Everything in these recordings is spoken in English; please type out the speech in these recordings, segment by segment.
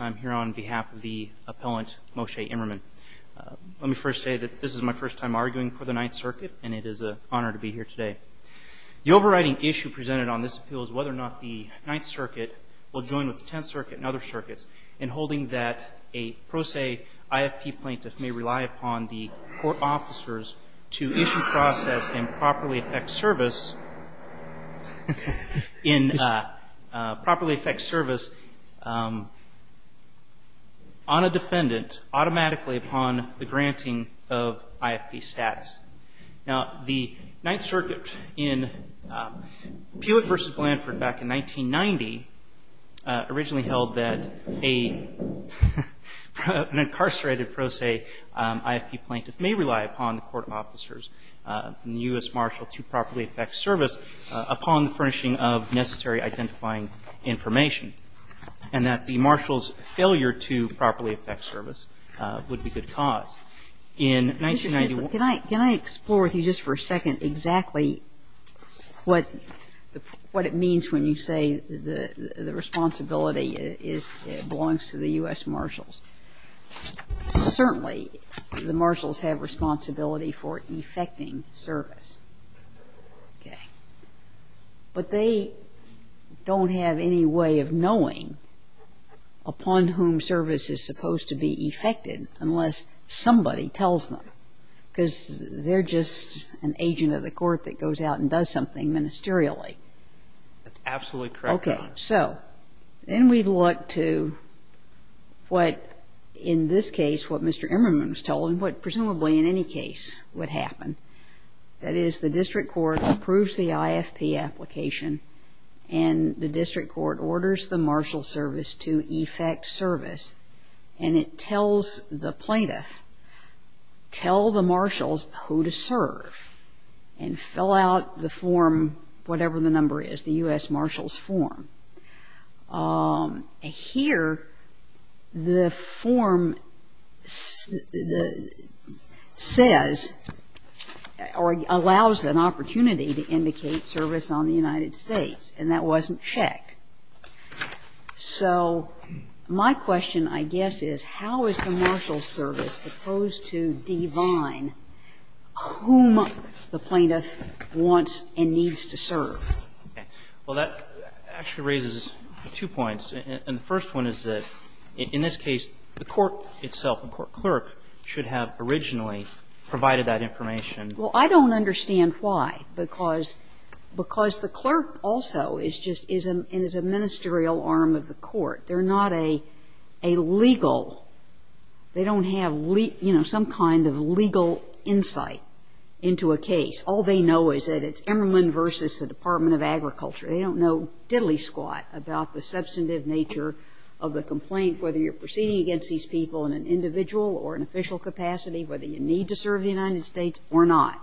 I'm here on behalf of the appellant, Moshe Emmerman. Let me first say that this is my first time arguing for the Ninth Circuit and it is an honor to be here today. The overriding issue presented on this appeal is whether or not the Ninth Circuit will join with the a pro se IFP plaintiff may rely upon the court officers to issue process and properly affect service on a defendant automatically upon the granting of IFP status. Now, the Ninth Circuit in Puyett v. Blanford back in 1990 originally held that an incarcerated pro se IFP plaintiff may rely upon the court officers and the U.S. Marshal to properly affect service upon the furnishing of necessary identifying information, and that the Marshal's failure to properly affect service would be good cause. In 1991 — Can I explore with you just for a second exactly what it means when you say the responsibility belongs to the U.S. Marshals? Certainly, the Marshals have responsibility for effecting service. But they don't have any way of knowing upon whom service is supposed to be effected unless somebody tells them, because they're just an agent of the court that goes out and does something ministerially. That's absolutely correct, Your Honor. Okay, so, then we look to what, in this case, what Mr. Emmerman was told and what presumably in any case would happen. That is, the District Court approves the IFP application and the plaintiff tell the Marshals who to serve and fill out the form, whatever the number is, the U.S. Marshal's form. Here, the form says or allows an opportunity to indicate service on the United States, and that wasn't checked. So, my question, I guess, is how is the Marshal's service supposed to divine whom the plaintiff wants and needs to serve? Well, that actually raises two points. And the first one is that, in this case, the court itself, the court clerk, should have originally provided that information. Well, I don't understand why, because the clerk also is just — is a ministerial They're not a legal — they don't have, you know, some kind of legal insight into a case. All they know is that it's Emmerman versus the Department of Agriculture. They don't know diddly-squat about the substantive nature of the complaint, whether you're proceeding against these people in an individual or an official capacity, whether you need to serve the United States or not.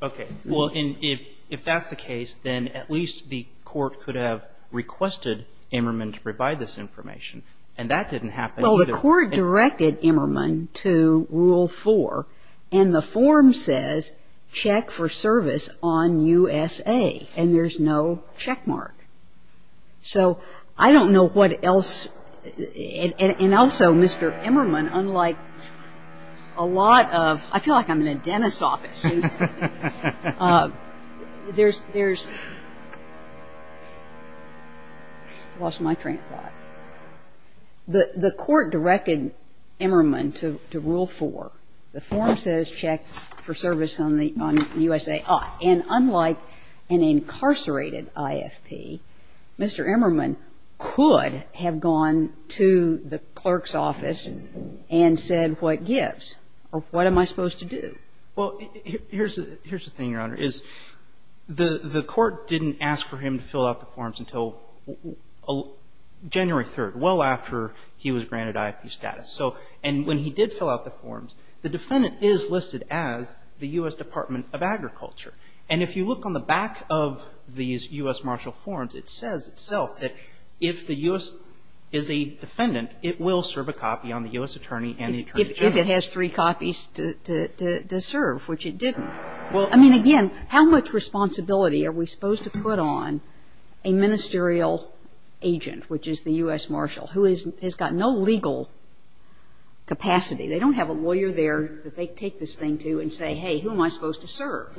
Okay. Well, and if that's the case, then at least the court could have requested Emmerman to provide this information. And that didn't happen. Well, the court directed Emmerman to Rule 4, and the form says check for service on USA, and there's no checkmark. So I don't know what else — and also, Mr. Emmerman, unlike a lot of — I feel like I'm in a dentist's office. There's — I lost my train of thought. The court directed Emmerman to Rule 4. The form says check for service on the — on USA. And unlike an incarcerated IFP, Mr. Emmerman could have gone to the clerk's office and said what gives or what am I supposed to do. Well, here's the thing, Your Honor, is the court didn't ask for him to fill out the forms until January 3rd, well after he was granted IFP status. So — and when he did fill out the forms, the defendant is listed as the U.S. Department of Agriculture. And if you look on the back of these U.S. Marshall forms, it says itself that if the U.S. is a defendant, it will serve a copy on the U.S. attorney and the attorney general. If it has three copies to serve, which it didn't. Well — I mean, again, how much responsibility are we supposed to put on a ministerial agent, which is the U.S. Marshall, who has got no legal capacity? They don't have a lawyer there that they take this thing to and say, hey, who am I supposed to serve?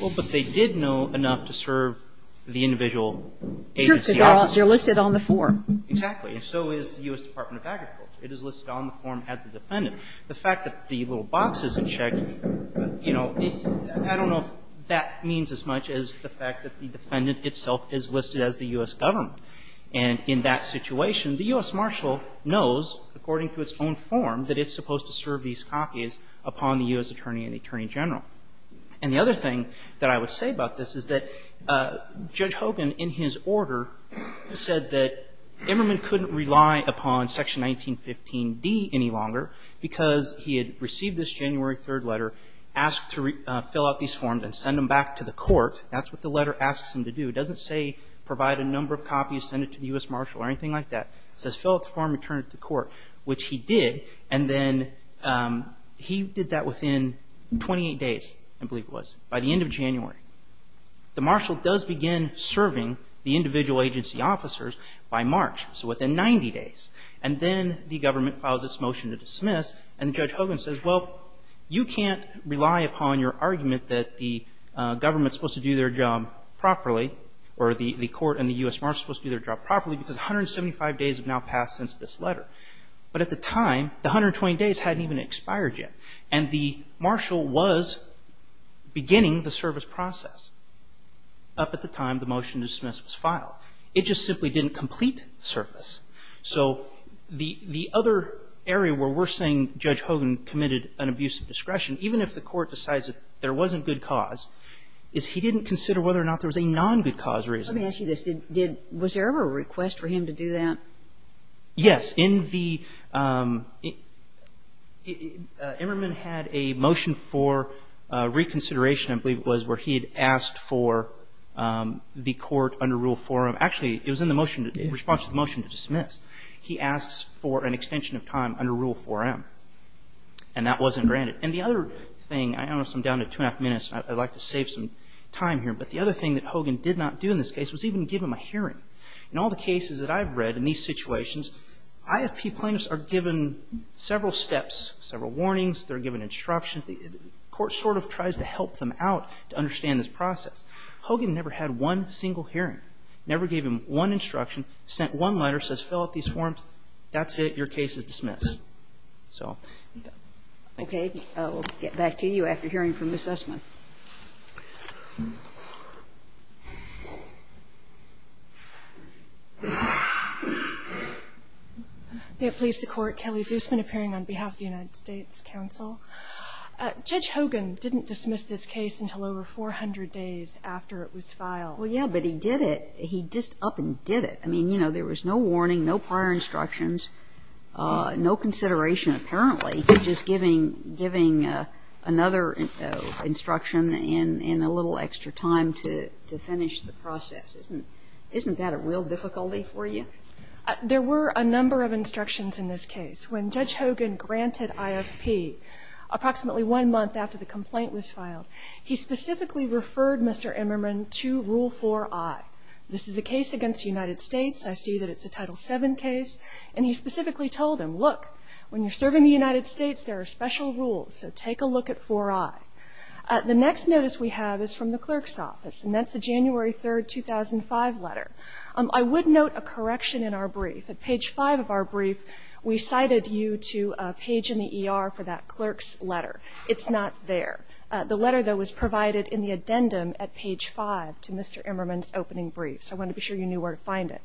Well, but they did know enough to serve the individual agency. It's true, because they're listed on the form. Exactly. And so is the U.S. Department of Agriculture. It is listed on the form at the defendant. The fact that the little box isn't checked, you know, I don't know if that means as much as the fact that the defendant itself is listed as the U.S. government. And in that situation, the U.S. Marshall knows, according to its own form, that it's supposed to serve these copies upon the U.S. attorney and the attorney general. And the other thing that I would say about this is that Judge Hogan, in his order, said that Emmerman couldn't rely upon Section 1915D any longer because he had received this January 3rd letter, asked to fill out these forms and send them back to the court. That's what the letter asks him to do. It doesn't say provide a number of copies, send it to the U.S. Marshall or anything like that. It says fill out the form and return it to the court, which he did. And then he did that within 28 days, I believe it was, by the end of January. The Marshall does begin serving the individual agency officers by March, so within 90 days. And then the government files its motion to dismiss, and Judge Hogan says, well, you can't rely upon your argument that the government's supposed to do their job properly, or the court and the U.S. Marshall's supposed to do their job properly because 175 days have now passed since this letter. But at the time, the 120 days hadn't even expired yet. And the Marshall was beginning the service process up at the time the motion to dismiss was filed. It just simply didn't complete service. So the other area where we're saying Judge Hogan committed an abuse of discretion, even if the court decides that there wasn't good cause, is he didn't consider whether or not there was a non-good cause reason. Let me ask you this. Was there ever a request for him to do that? Yes. Emmerman had a motion for reconsideration, I believe it was, where he had asked for the court under Rule 4M. Actually, it was in response to the motion to dismiss. He asked for an extension of time under Rule 4M, and that wasn't granted. And the other thing, I'm down to two and a half minutes, and I'd like to save some time here, but the other thing that Hogan did not do in this case was even give him a hearing. In all the cases that I've read in these situations, IFP plaintiffs are given several steps, several warnings. They're given instructions. The court sort of tries to help them out to understand this process. Hogan never had one single hearing, never gave him one instruction, sent one letter, says fill out these forms. That's it. Your case is dismissed. So thank you. Okay. We'll get back to you after hearing from Ms. Essman. Ms. Essman. May it please the Court. Kelly Zusman appearing on behalf of the United States Counsel. Judge Hogan didn't dismiss this case until over 400 days after it was filed. Well, yeah, but he did it. He just up and did it. I mean, you know, there was no warning, no prior instructions, no consideration apparently to just giving another instruction in a little extra time to finish the process. Isn't that a real difficulty for you? There were a number of instructions in this case. When Judge Hogan granted IFP approximately one month after the complaint was filed, he specifically referred Mr. Emmerman to Rule 4i. This is a case against the United States. I see that it's a Title VII case. And he specifically told him, look, when you're serving the United States, there are special rules, so take a look at 4i. The next notice we have is from the clerk's office, and that's the January 3, 2005 letter. I would note a correction in our brief. At page 5 of our brief, we cited you to a page in the ER for that clerk's letter. It's not there. The letter, though, was provided in the addendum at page 5 to Mr. Emmerman's opening brief, so I wanted to be sure you knew where to find it.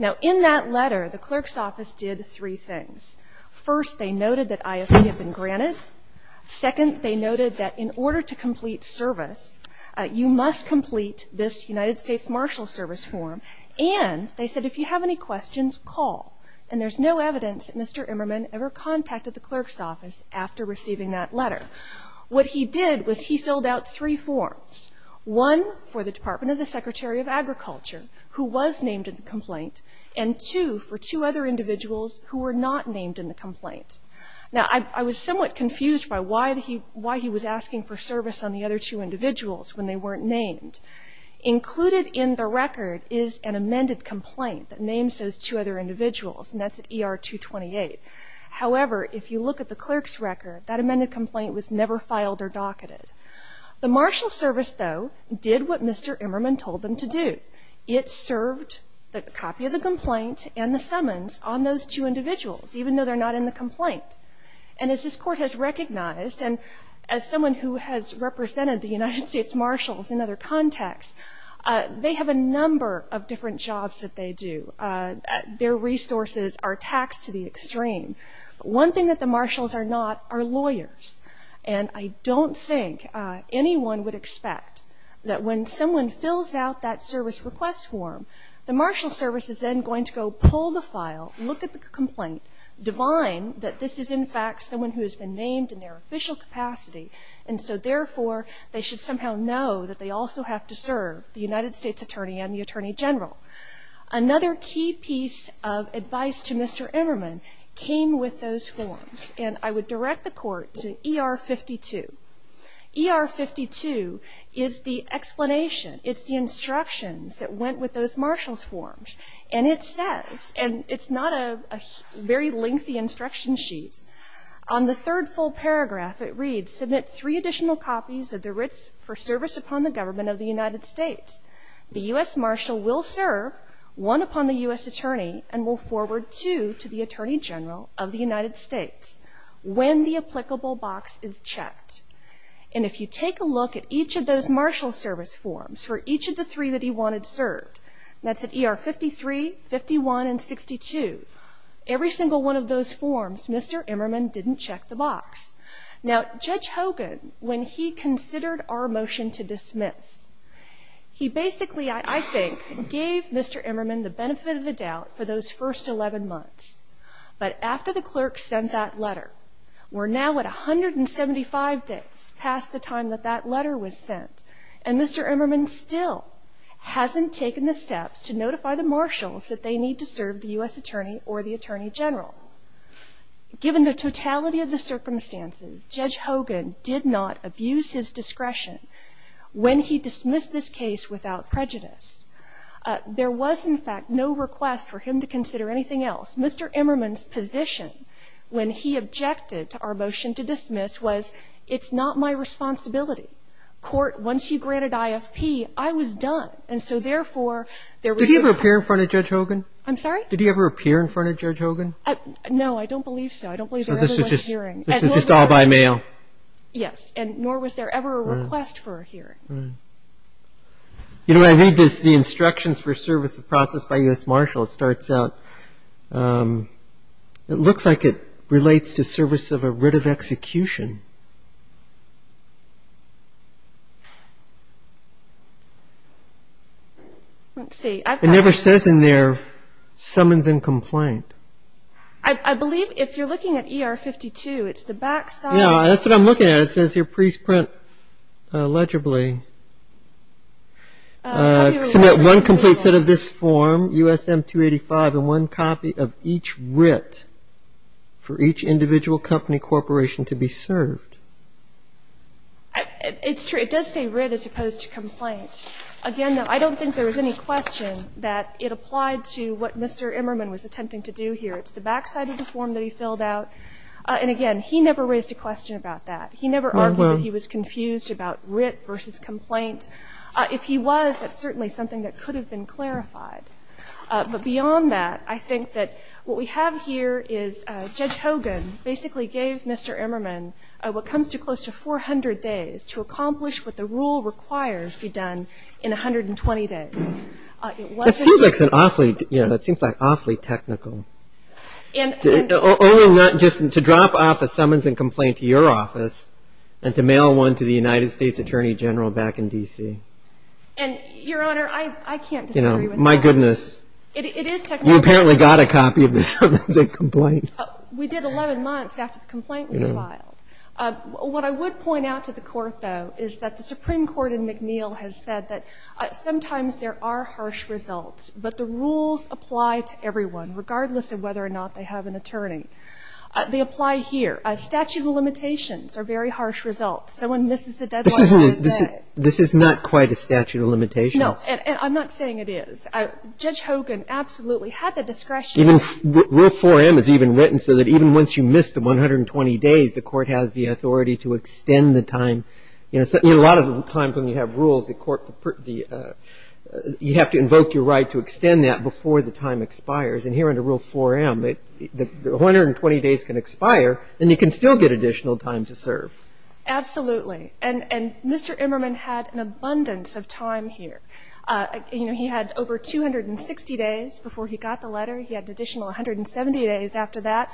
Now, in that letter, the clerk's office did three things. First, they noted that IFP had been granted. Second, they noted that in order to complete service, you must complete this United States Marshal Service form. And they said, if you have any questions, call. And there's no evidence that Mr. Emmerman ever contacted the clerk's office after receiving that letter. What he did was he filled out three forms, one for the Department of the Secretary of Agriculture, who was named in the complaint, and two for two other individuals who were not named in the complaint. Now, I was somewhat confused by why he was asking for service on the other two individuals when they weren't named. Included in the record is an amended complaint that names those two other individuals, and that's at ER 228. However, if you look at the clerk's record, that amended complaint was never filed or docketed. The Marshal Service, though, did what Mr. Emmerman told them to do. It served the copy of the complaint and the summons on those two individuals, even though they're not in the complaint. And as this Court has recognized, and as someone who has represented the United States Marshals in other contexts, they have a number of different jobs that they do. Their resources are taxed to the extreme. One thing that the Marshals are not are lawyers. And I don't think anyone would expect that when someone fills out that service request form, the Marshal Service is then going to go pull the file, look at the complaint, divine that this is, in fact, someone who has been named in their official capacity. And so, therefore, they should somehow know that they also have to serve the United States Attorney and the Attorney General. Another key piece of advice to Mr. Emmerman came with those forms. And I would direct the Court to ER-52. ER-52 is the explanation. It's the instructions that went with those Marshals' forms. And it says, and it's not a very lengthy instruction sheet, on the third full paragraph it reads, Submit three additional copies of the writs for service upon the government of the United States. The U.S. Marshal will serve one upon the U.S. Attorney and will forward two to the Attorney General of the United States when the applicable box is checked. And if you take a look at each of those Marshal Service forms, for each of the three that he wanted served, that's at ER-53, 51, and 62, every single one of those forms Mr. Emmerman didn't check the box. Now, Judge Hogan, when he considered our motion to dismiss, he basically, I think, gave Mr. Emmerman the benefit of the doubt for those first 11 months. But after the clerk sent that letter, we're now at 175 days past the time that that letter was sent, and Mr. Emmerman still hasn't taken the steps to notify the Marshals that they need to serve the U.S. Attorney or the Attorney General. Given the totality of the circumstances, Judge Hogan did not abuse his discretion when he dismissed this case without prejudice. There was, in fact, no request for him to consider anything else. Mr. Emmerman's position when he objected to our motion to dismiss was, it's not my responsibility. Court, once you granted IFP, I was done. And so, therefore, there was no question. Did he ever appear in front of Judge Hogan? I'm sorry? Did he ever appear in front of Judge Hogan? No, I don't believe so. I don't believe there ever was a hearing. So this was just all by mail? Yes. And nor was there ever a request for a hearing. You know, I think the instructions for services processed by U.S. Marshall, it starts out, it looks like it relates to service of a writ of execution. Let's see. It never says in there, summons and complaint. I believe if you're looking at ER 52, it's the back side. Yeah, that's what I'm looking at. It says here, pre-print legibly. Submit one complete set of this form, USM 285, and one copy of each writ for each individual company corporation to be served. It's true. It does say writ as opposed to complaint. Again, I don't think there was any question that it applied to what Mr. Emmerman was attempting to do here. It's the back side of the form that he filled out. And, again, he never raised a question about that. He never argued that he was confused about writ versus complaint. If he was, that's certainly something that could have been clarified. But beyond that, I think that what we have here is Judge Hogan basically gave Mr. Emmerman what comes to close to 400 days to accomplish what the rule requires be done in 120 days. That seems awfully technical. Only not just to drop off a summons and complaint to your office and to mail one to the United States Attorney General back in D.C. And, Your Honor, I can't disagree with that. My goodness. It is technical. You apparently got a copy of the summons and complaint. We did 11 months after the complaint was filed. What I would point out to the Court, though, is that the Supreme Court in McNeil has said that sometimes there are harsh results, but the rules apply to everyone regardless of whether or not they have an attorney. They apply here. Statute of limitations are very harsh results. Someone misses the deadline. This is not quite a statute of limitations. No, and I'm not saying it is. Judge Hogan absolutely had the discretion. Rule 4M is even written so that even once you miss the 120 days, the Court has the authority to extend the time. In a lot of times when you have rules, you have to invoke your right to extend that before the time expires. And here under Rule 4M, the 120 days can expire and you can still get additional time to serve. Absolutely. And Mr. Emmerman had an abundance of time here. You know, he had over 260 days before he got the letter. He had an additional 170 days after that.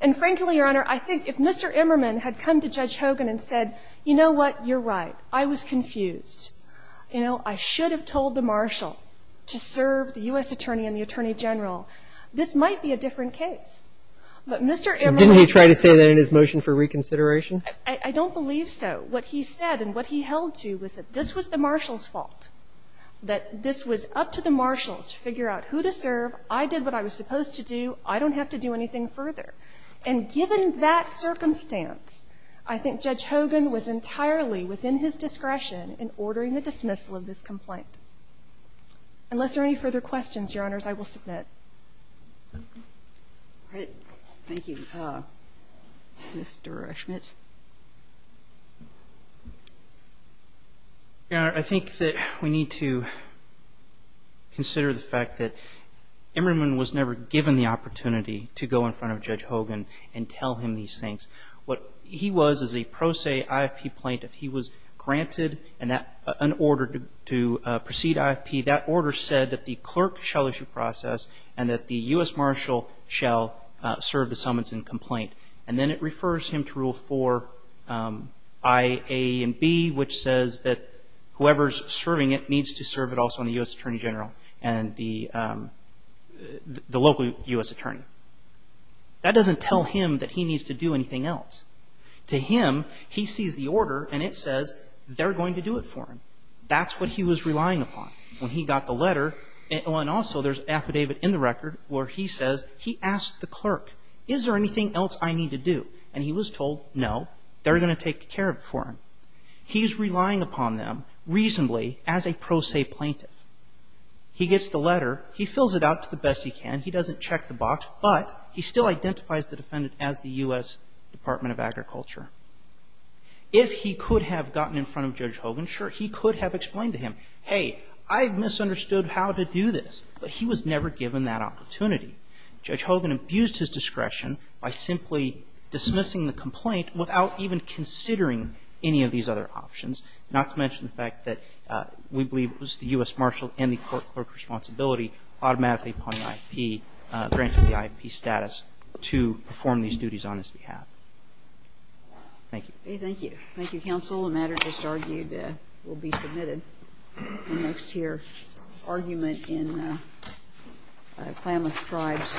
And, frankly, Your Honor, I think if Mr. Emmerman had come to Judge Hogan and said, you know what, you're right, I was confused. You know, I should have told the marshals to serve the U.S. attorney and the attorney general. This might be a different case. But Mr. Emmerman said that. Didn't he try to say that in his motion for reconsideration? I don't believe so. What he said and what he held to was that this was the marshals' fault, that this was up to the marshals to figure out who to serve. I did what I was supposed to do. I don't have to do anything further. And given that circumstance, I think Judge Hogan was entirely within his discretion in ordering the dismissal of this complaint. Unless there are any further questions, Your Honors, I will submit. All right. Thank you. Mr. Schmidt. Your Honor, I think that we need to consider the fact that Emmerman was never given the opportunity to go in front of Judge Hogan and tell him these things. What he was is a pro se IFP plaintiff. He was granted an order to proceed IFP. That order said that the clerk shall issue process and that the U.S. marshal shall serve the summons and complaint. And then it refers him to Rule 4, I, A, and B, which says that whoever is serving it is a U.S. attorney. That doesn't tell him that he needs to do anything else. To him, he sees the order and it says they're going to do it for him. That's what he was relying upon when he got the letter. And also there's an affidavit in the record where he says he asked the clerk, is there anything else I need to do? And he was told, no, they're going to take care of it for him. He's relying upon them reasonably as a pro se plaintiff. He gets the letter. He fills it out to the best he can. He doesn't check the box, but he still identifies the defendant as the U.S. Department of Agriculture. If he could have gotten in front of Judge Hogan, sure, he could have explained to him, hey, I've misunderstood how to do this. But he was never given that opportunity. Judge Hogan abused his discretion by simply dismissing the complaint without even considering any of these other options, not to mention the fact that we believe it was the U.S. Marshall and the court clerk's responsibility automatically upon the grant of the IFP status to perform these duties on his behalf. Thank you. Okay, thank you. Thank you, counsel. The matter just argued will be submitted in the next year. Argument in Klamath Tribes.